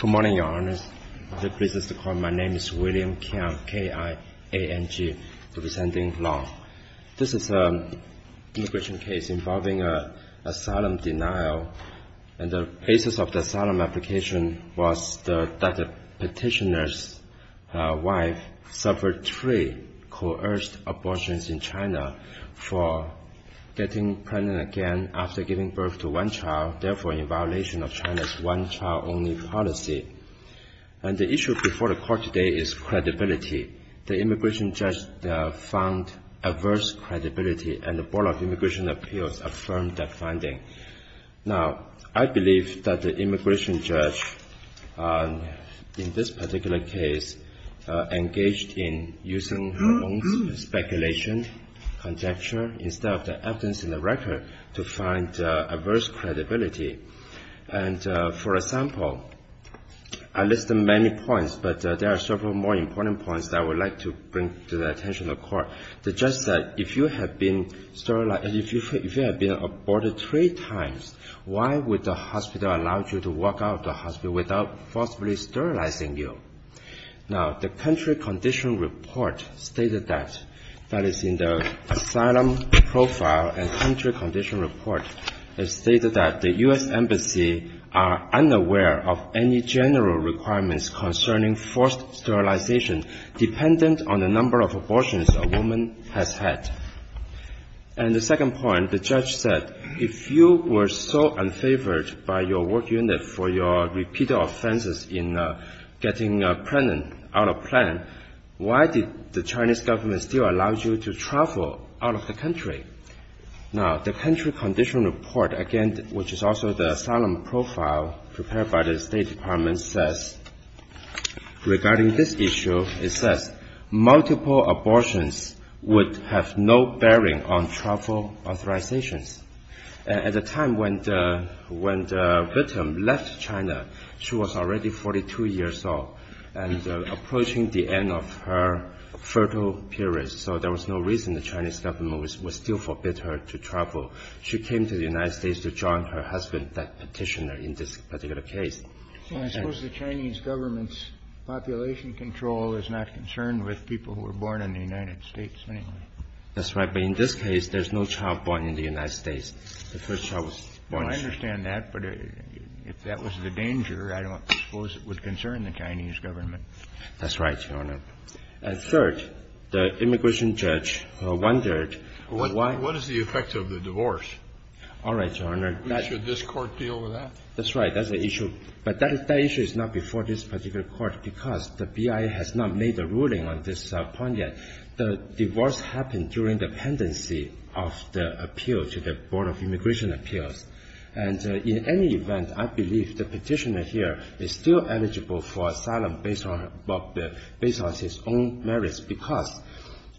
Good morning, Your Honors. It is a pleasure to call you. My name is William Kiang, K-I-A-N-G, representing LONG. This is an immigration case involving asylum denial. And the basis of the asylum application was that the petitioner's wife suffered three coerced abortions in China for getting pregnant again after giving birth to one child, therefore in violation of China's one-child-only policy. And the issue before the Court today is credibility. The immigration judge found adverse credibility, and the Board of Immigration Appeals affirmed that finding. Now, I believe that the immigration judge in this particular case engaged in using her own speculation, conjecture, instead of the evidence in the record, to find adverse credibility. And, for example, I listed many points, but there are several more important points that I would like to bring to the attention of the Court. The judge said, if you have been sterilized, if you have been aborted three times, why would the hospital allow you to walk out of the hospital without forcibly sterilizing you? Now, the country condition report stated that, that is in the asylum profile and country condition report, it stated that the U.S. Embassy are unaware of any general requirements concerning forced sterilization dependent on the number of abortions a woman has had. And the second point, the judge said, if you were so unfavored by your work unit for your repeated offenses in getting pregnant out of plan, why did the Chinese government still allow you to travel out of the country? Now, the country condition report, again, which is also the asylum profile prepared by the State Department, says, regarding this issue, it says, multiple abortions would have no bearing on travel authorizations. At the time when the victim left China, she was already 42 years old and approaching the end of her fertile period. So there was no reason the Chinese government would still forbid her to travel. She came to the United States to join her husband, that Petitioner, in this particular case. Kennedy. Well, I suppose the Chinese government's population control is not concerned with people who were born in the United States, anyway. That's right. But in this case, there's no child born in the United States. The first child was born in China. Well, I understand that, but if that was the danger, I don't suppose it would concern the Chinese government. That's right, Your Honor. And third, the immigration judge wondered why — What is the effect of the divorce? All right, Your Honor. Should this Court deal with that? That's right. That's the issue. But that issue is not before this particular Court because the BIA has not made a ruling on this point yet. The divorce happened during the pendency of the appeal to the Board of Immigration Appeals. And in any event, I believe the Petitioner here is still eligible for asylum based on his own merits, because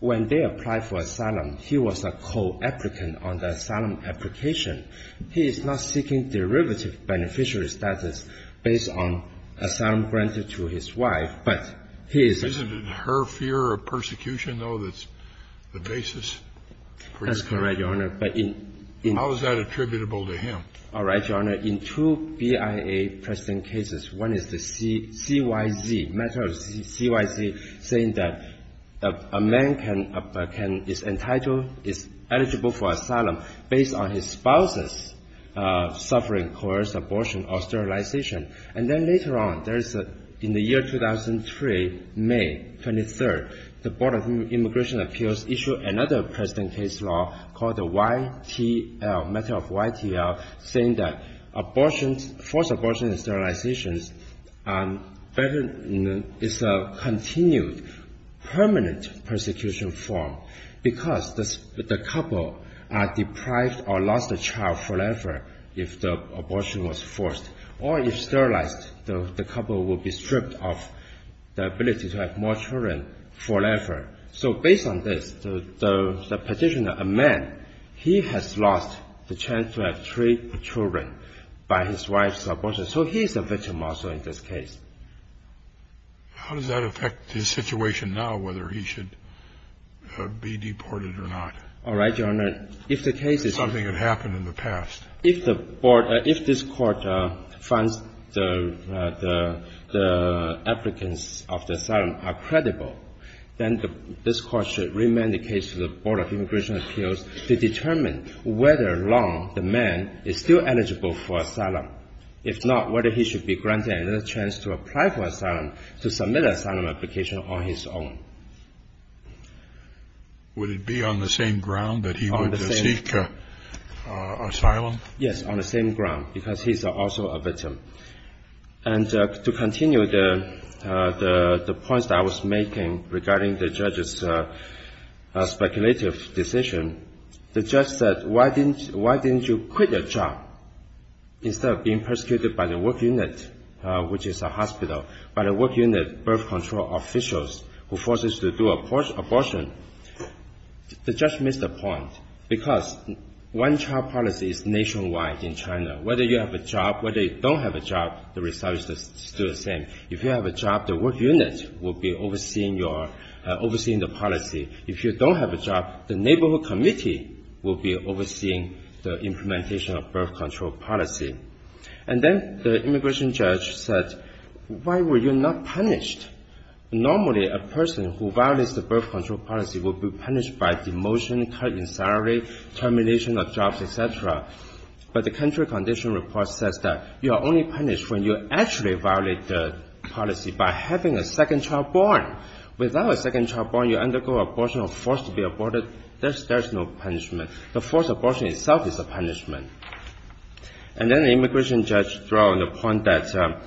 when they applied for asylum, he was a co-applicant on the asylum application. He is not seeking derivative beneficiary status based on asylum granted to his wife, but he is — Isn't it her fear of persecution, though, that's the basis for this case? That's correct, Your Honor. All right, Your Honor. In two BIA precedent cases, one is the CYZ, matter of CYZ, saying that a man can — is entitled, is eligible for asylum based on his spouse's suffering, coerced abortion or sterilization. And then later on, there's — in the year 2003, May 23rd, the Board of Immigration Appeals issued another precedent case law called the YTL, matter of YTL, saying that abortion — forced abortion and sterilization is a continued, permanent persecution form because the couple are deprived or lost a child forever if the abortion was forced. Or if sterilized, the couple will be stripped of the ability to have more children forever. So based on this, the petitioner, a man, he has lost the chance to have three children by his wife's abortion. So he's a victim also in this case. How does that affect his situation now, whether he should be deported or not? All right, Your Honor. If the case is — Something that happened in the past. If the Board — if this Court finds the applicants of the asylum are credible, then this Court should remand the case to the Board of Immigration Appeals to determine whether or not the man is still eligible for asylum. If not, whether he should be granted another chance to apply for asylum, to submit an asylum application on his own. Would it be on the same ground that he would seek asylum? Yes, on the same ground, because he's also a victim. And to continue the points that I was making regarding the judge's speculative decision, the judge said, why didn't you quit your job instead of being persecuted by the work unit, which is a hospital, by the work unit birth control officials who forced us to do abortion? The judge missed the point, because one-child policy is nationwide in China. Whether you have a job, whether you don't have a job, the result is still the same. If you have a job, the work unit will be overseeing your — overseeing the policy. If you don't have a job, the neighborhood committee will be overseeing the implementation of birth control policy. And then the immigration judge said, why were you not punished? Normally, a person who violates the birth control policy will be punished by demotion, cut in salary, termination of jobs, et cetera. But the country condition report says that you are only punished when you actually violate the policy by having a second child born. Without a second child born, you undergo abortion or forced to be aborted. There's no punishment. The forced abortion itself is a punishment. And then the immigration judge draw on the point that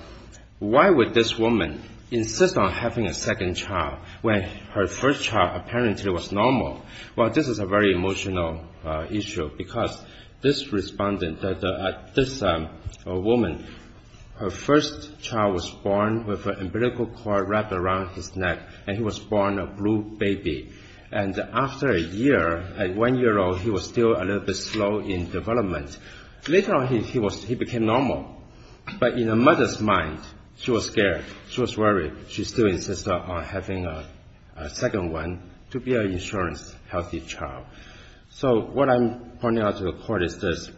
why would this woman insist on having a second child when her first child apparently was normal? Well, this is a very emotional issue, because this respondent, this woman, her first child was born with an umbilical cord wrapped around his neck, and he was born a blue baby. And after a year, at one year old, he was still a little bit slow in development. Later on, he was — he became normal. But in a mother's mind, she was scared. She was worried. She still insisted on having a second one to be an insurance-healthy child. So what I'm pointing out to the Court is this.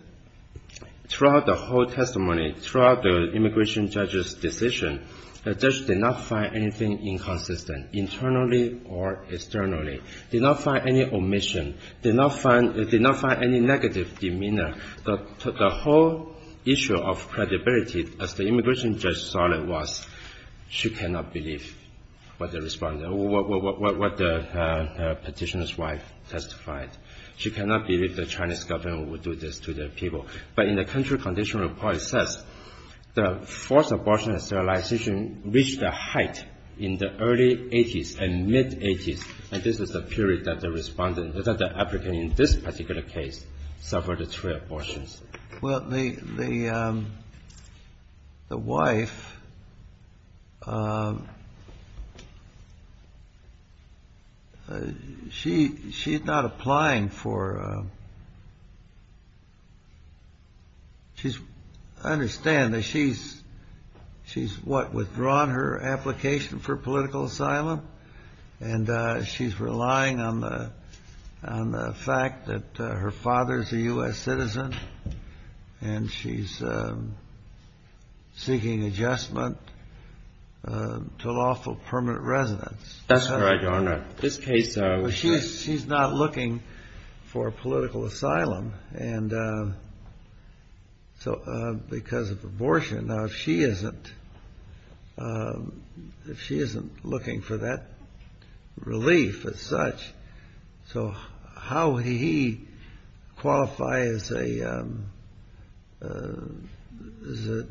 Throughout the whole testimony, throughout the immigration judge's decision, the judge did not find anything inconsistent, internally or externally. Did not find any omission. Did not find — did not find any negative demeanor. The whole issue of credibility, as the immigration judge saw it, was she cannot believe what the respondent — what the petitioner's wife testified. She cannot believe the Chinese government would do this to their people. But in the country condition report, it says the forced abortion and sterilization reached a height in the early 80s and mid-80s. And this is the period that the respondent — that the applicant in this particular case suffered three abortions. Well, the wife — she's not applying for — she's — I understand that she's — she's, what, withdrawn her application for political asylum? And she's relying on the fact that her father's a U.S. citizen, and she's seeking adjustment to lawful permanent residence. That's correct, Your Honor. This case — But she's not looking for political asylum. And so because of abortion, now, if she isn't — if she isn't looking for that relief as such, so how would he qualify as a — as a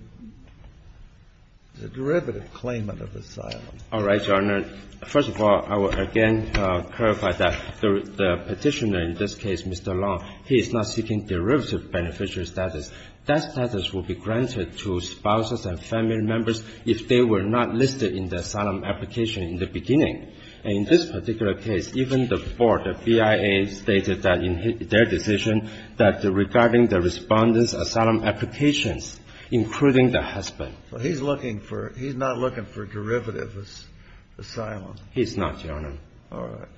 derivative claimant of asylum? All right, Your Honor. First of all, I will again clarify that the Petitioner in this case, Mr. Long, he is not seeking derivative beneficiary status. That status would be granted to spouses and family members if they were not listed in the asylum application in the beginning. And in this particular case, even the board, the BIA, stated that in their decision that regarding the Respondent's asylum applications, including the husband. So he's looking for — he's not looking for derivative asylum. He's not, Your Honor. All right.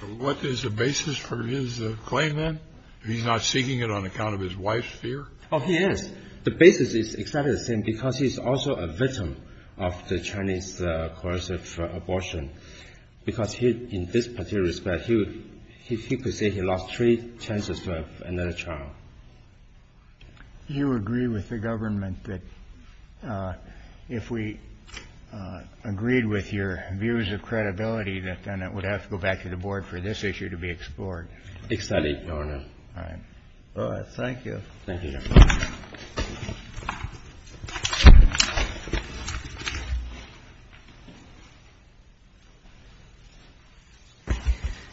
So what is the basis for his claim, then? He's not seeking it on account of his wife's fear? Oh, he is. The basis is exactly the same because he's also a victim of the Chinese coercive abortion because he, in this particular respect, he would — he could say he lost three chances to have another child. You agree with the government that if we agreed with your views of credibility, that then it would have to go back to the board for this issue to be explored? Exactly, Your Honor. All right. All right. Thank you. Thank you, Your Honor.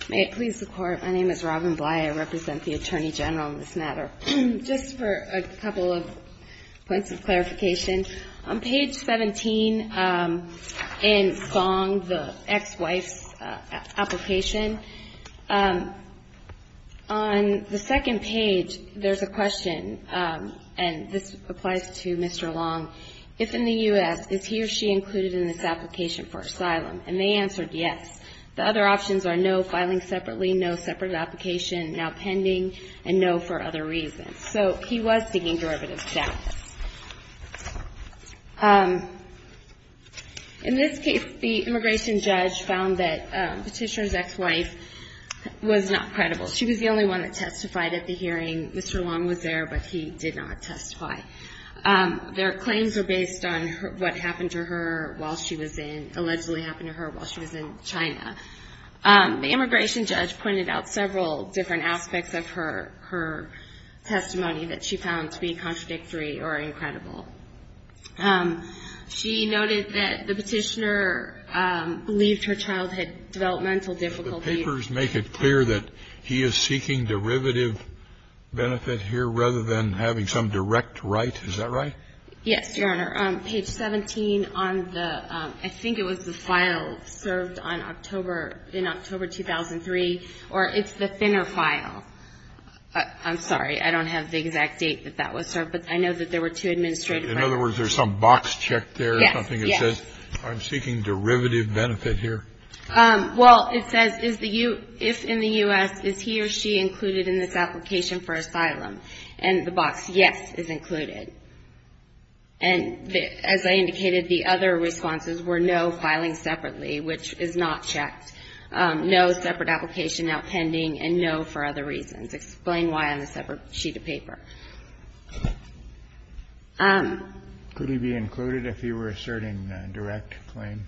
May it please the Court. My name is Robin Bly. I represent the Attorney General in this matter. Just for a couple of points of clarification, on page 17 in Fong, the ex-wife's application, on the second page, there's a question, and this applies to Mr. Long. If in the U.S., is he or she included in this application for asylum? And they answered yes. The other options are no filing separately, no separate application, now pending, and no for other reasons. So he was seeking derivative status. In this case, the immigration judge found that Petitioner's ex-wife was not credible. She was the only one that testified at the hearing. Mr. Long was there, but he did not testify. Their claims are based on what happened to her while she was in, allegedly happened to her while she was in China. The immigration judge pointed out several different aspects of her testimony that she found to be contradictory or incredible. She noted that the Petitioner believed her child had developmental difficulties. And on page 17, she said in particular, they had a denial of trust. And let me ask. Refers make it clear that he is seeking derivative benefit here rather than having some direct right? Is that right? Yes, Your Honor. On page 17 on the, I think it was the file served on October, in October 2003, or it's the thinner file. I'm sorry, I don't have the exact date that that was served, but I know that there were two administrative rights. In other words, there's some box check there or something that says I'm seeking derivative benefit here. Well, it says, if in the U.S., is he or she included in this application for asylum? And the box yes is included. And as I indicated, the other responses were no filing separately, which is not checked, no separate application outpending, and no for other reasons. Explain why on the separate sheet of paper. Could he be included if he were asserting a direct claim?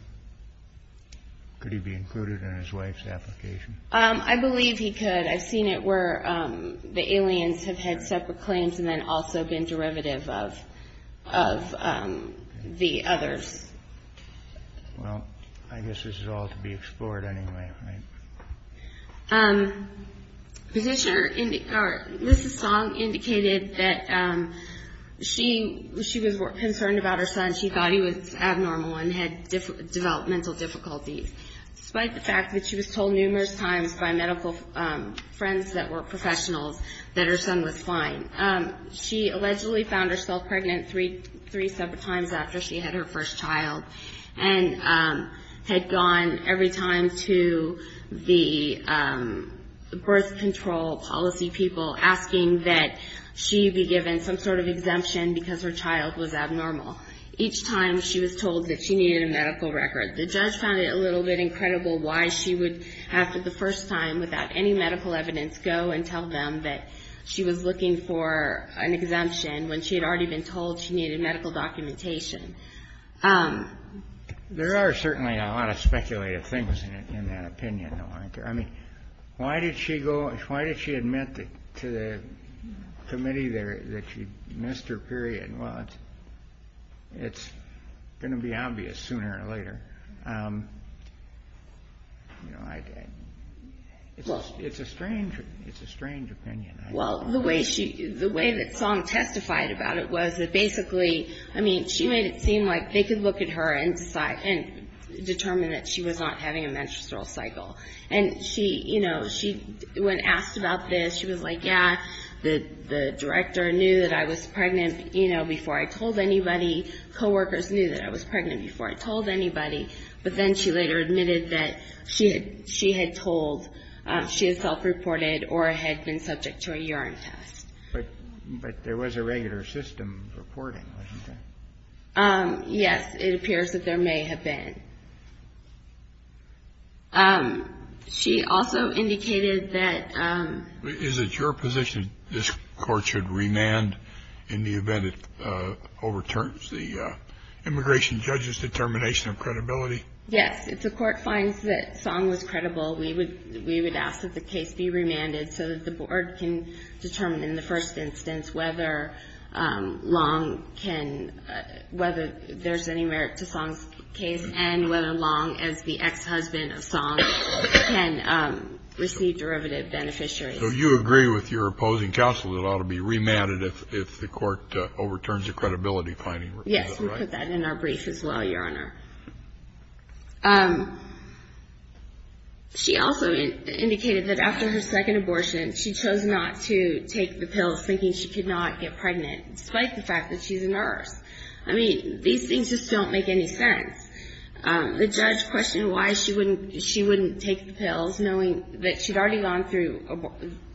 Could he be included in his wife's application? I believe he could. I've seen it where the aliens have had separate claims and then also been derivative of the others. Well, I guess this is all to be explored anyway, right? Ms. Song indicated that she was concerned about her son. She thought he was abnormal and had developmental difficulties. Despite the fact that she was told numerous times by medical friends that were professionals that her son was fine, she allegedly found herself pregnant three separate times after she had her first child and had gone every time to the birth control policy people asking that she be given some sort of exemption because her child was abnormal. Each time she was told that she needed a medical record. The judge found it a little bit incredible why she would have to the first time, without any medical evidence, go and tell them that she was looking for an exemption when she had already been told she needed medical documentation. There are certainly a lot of speculative things in that opinion. I mean, why did she admit to the committee there that she missed her period? Well, it's going to be obvious sooner or later. It's a strange opinion. Well, the way that Song testified about it was that basically, I mean, she made it seem like they could look at her and determine that she was not having a menstrual cycle. And she, you know, when asked about this, she was like, yeah, the director knew that I was pregnant, you know, before I told anybody. Coworkers knew that I was pregnant before I told anybody. But then she later admitted that she had told, she had self-reported or had been subject to a urine test. But there was a regular system reporting, wasn't there? Yes, it appears that there may have been. She also indicated that. Is it your position this court should remand in the event it overturns the immigration judge's determination of credibility? Yes, if the court finds that Song was credible, we would ask that the case be remanded so that the board can determine in the first instance whether Long can, whether there's any merit to Song's case and whether Long, as the ex-husband of Song, can receive derivative beneficiaries. So you agree with your opposing counsel that it ought to be remanded if the court overturns the credibility finding report, right? Yes, we put that in our brief as well, Your Honor. She also indicated that after her second abortion, she chose not to take the pills thinking she could not get pregnant, despite the fact that she's a nurse. I mean, these things just don't make any sense. The judge questioned why she wouldn't take the pills, knowing that she'd already gone through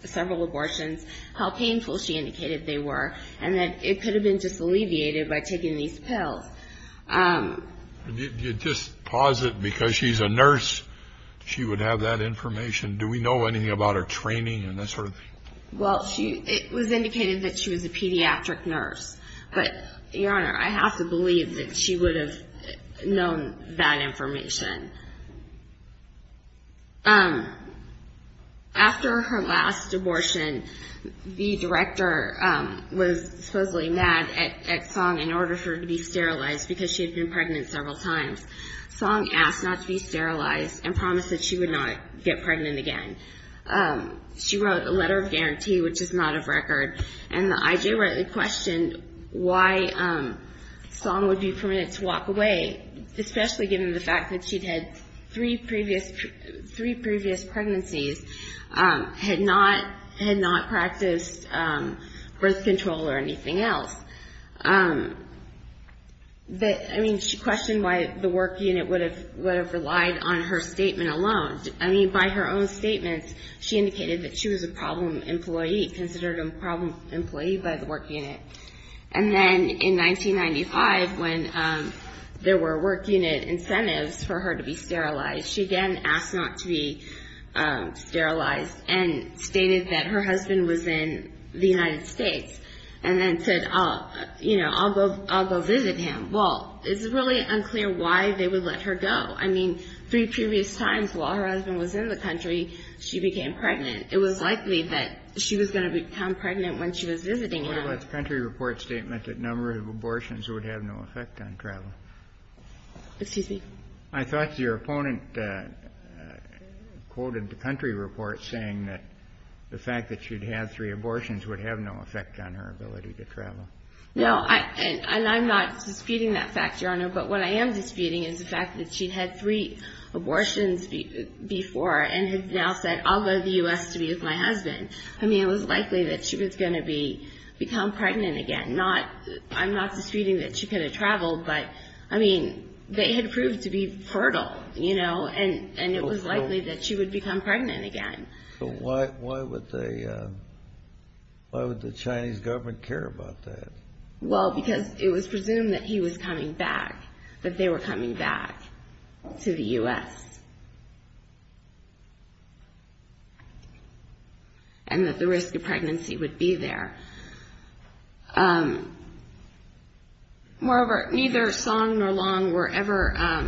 several abortions, how painful she indicated they were, and that it could have been just alleviated by taking these pills. You just posit, because she's a nurse, she would have that information. Do we know anything about her training and that sort of thing? Well, it was indicated that she was a pediatric nurse. But, Your Honor, I have to believe that she would have known that information. After her last abortion, the director was supposedly mad at Song in order for her to be sterilized because she had been pregnant several times. Song asked not to be sterilized and promised that she would not get pregnant again. She wrote a letter of guarantee, which is not of record, and the IJ rightly questioned why Song would be permitted to walk away, especially given the fact that she'd had three previous pregnancies, had not practiced birth control or anything else. I mean, she questioned why the work unit would have relied on her statement alone. I mean, by her own statements, she indicated that she was a problem employee, considered a problem employee by the work unit. And then in 1995, when there were work unit incentives for her to be sterilized, she again asked not to be sterilized and stated that her husband was in the United States and then said, you know, I'll go visit him. Well, it's really unclear why they would let her go. I mean, three previous times while her husband was in the country, she became pregnant. It was likely that she was going to become pregnant when she was visiting him. What about the country report statement that number of abortions would have no effect on travel? Excuse me? I thought your opponent quoted the country report saying that the fact that she'd had three abortions would have no effect on her ability to travel. No. And I'm not disputing that fact, Your Honor. But what I am disputing is the fact that she'd had three abortions before and had now said, I'll go to the U.S. to be with my husband. I mean, it was likely that she was going to become pregnant again. I'm not disputing that she could have traveled, but, I mean, they had proved to be fertile, you know, and it was likely that she would become pregnant again. So why would the Chinese government care about that? Well, because it was presumed that he was coming back, that they were coming back to the U.S. and that the risk of pregnancy would be there. Moreover, neither Song nor Long were ever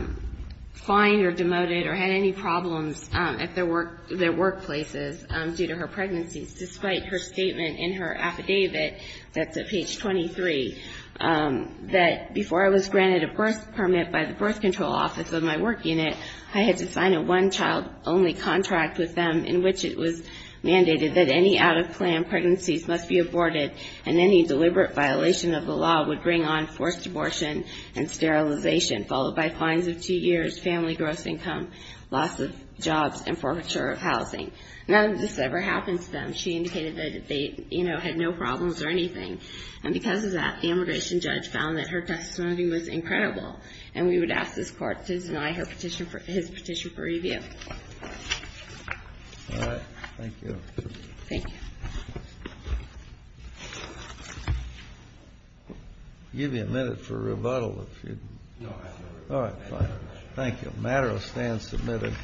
fined or demoted or had any problems at their workplaces due to her pregnancies, despite her statement in her affidavit that's at page 23 that, before I was granted a birth permit by the birth control office of my work unit, I had to sign a one-child-only contract with them in which it was mandated that any out-of-plan pregnancies must be aborted and any deliberate violation of the law would bring on forced abortion and sterilization, followed by fines of two years, family gross income, loss of jobs and forfeiture of housing. None of this ever happened to them. She indicated that they, you know, had no problems or anything. And because of that, the immigration judge found that her testimony was incredible, and we would ask this Court to deny his petition for review. All right. Thank you. Thank you. I'll give you a minute for rebuttal. All right. Fine. Thank you. Matter of stand submitted.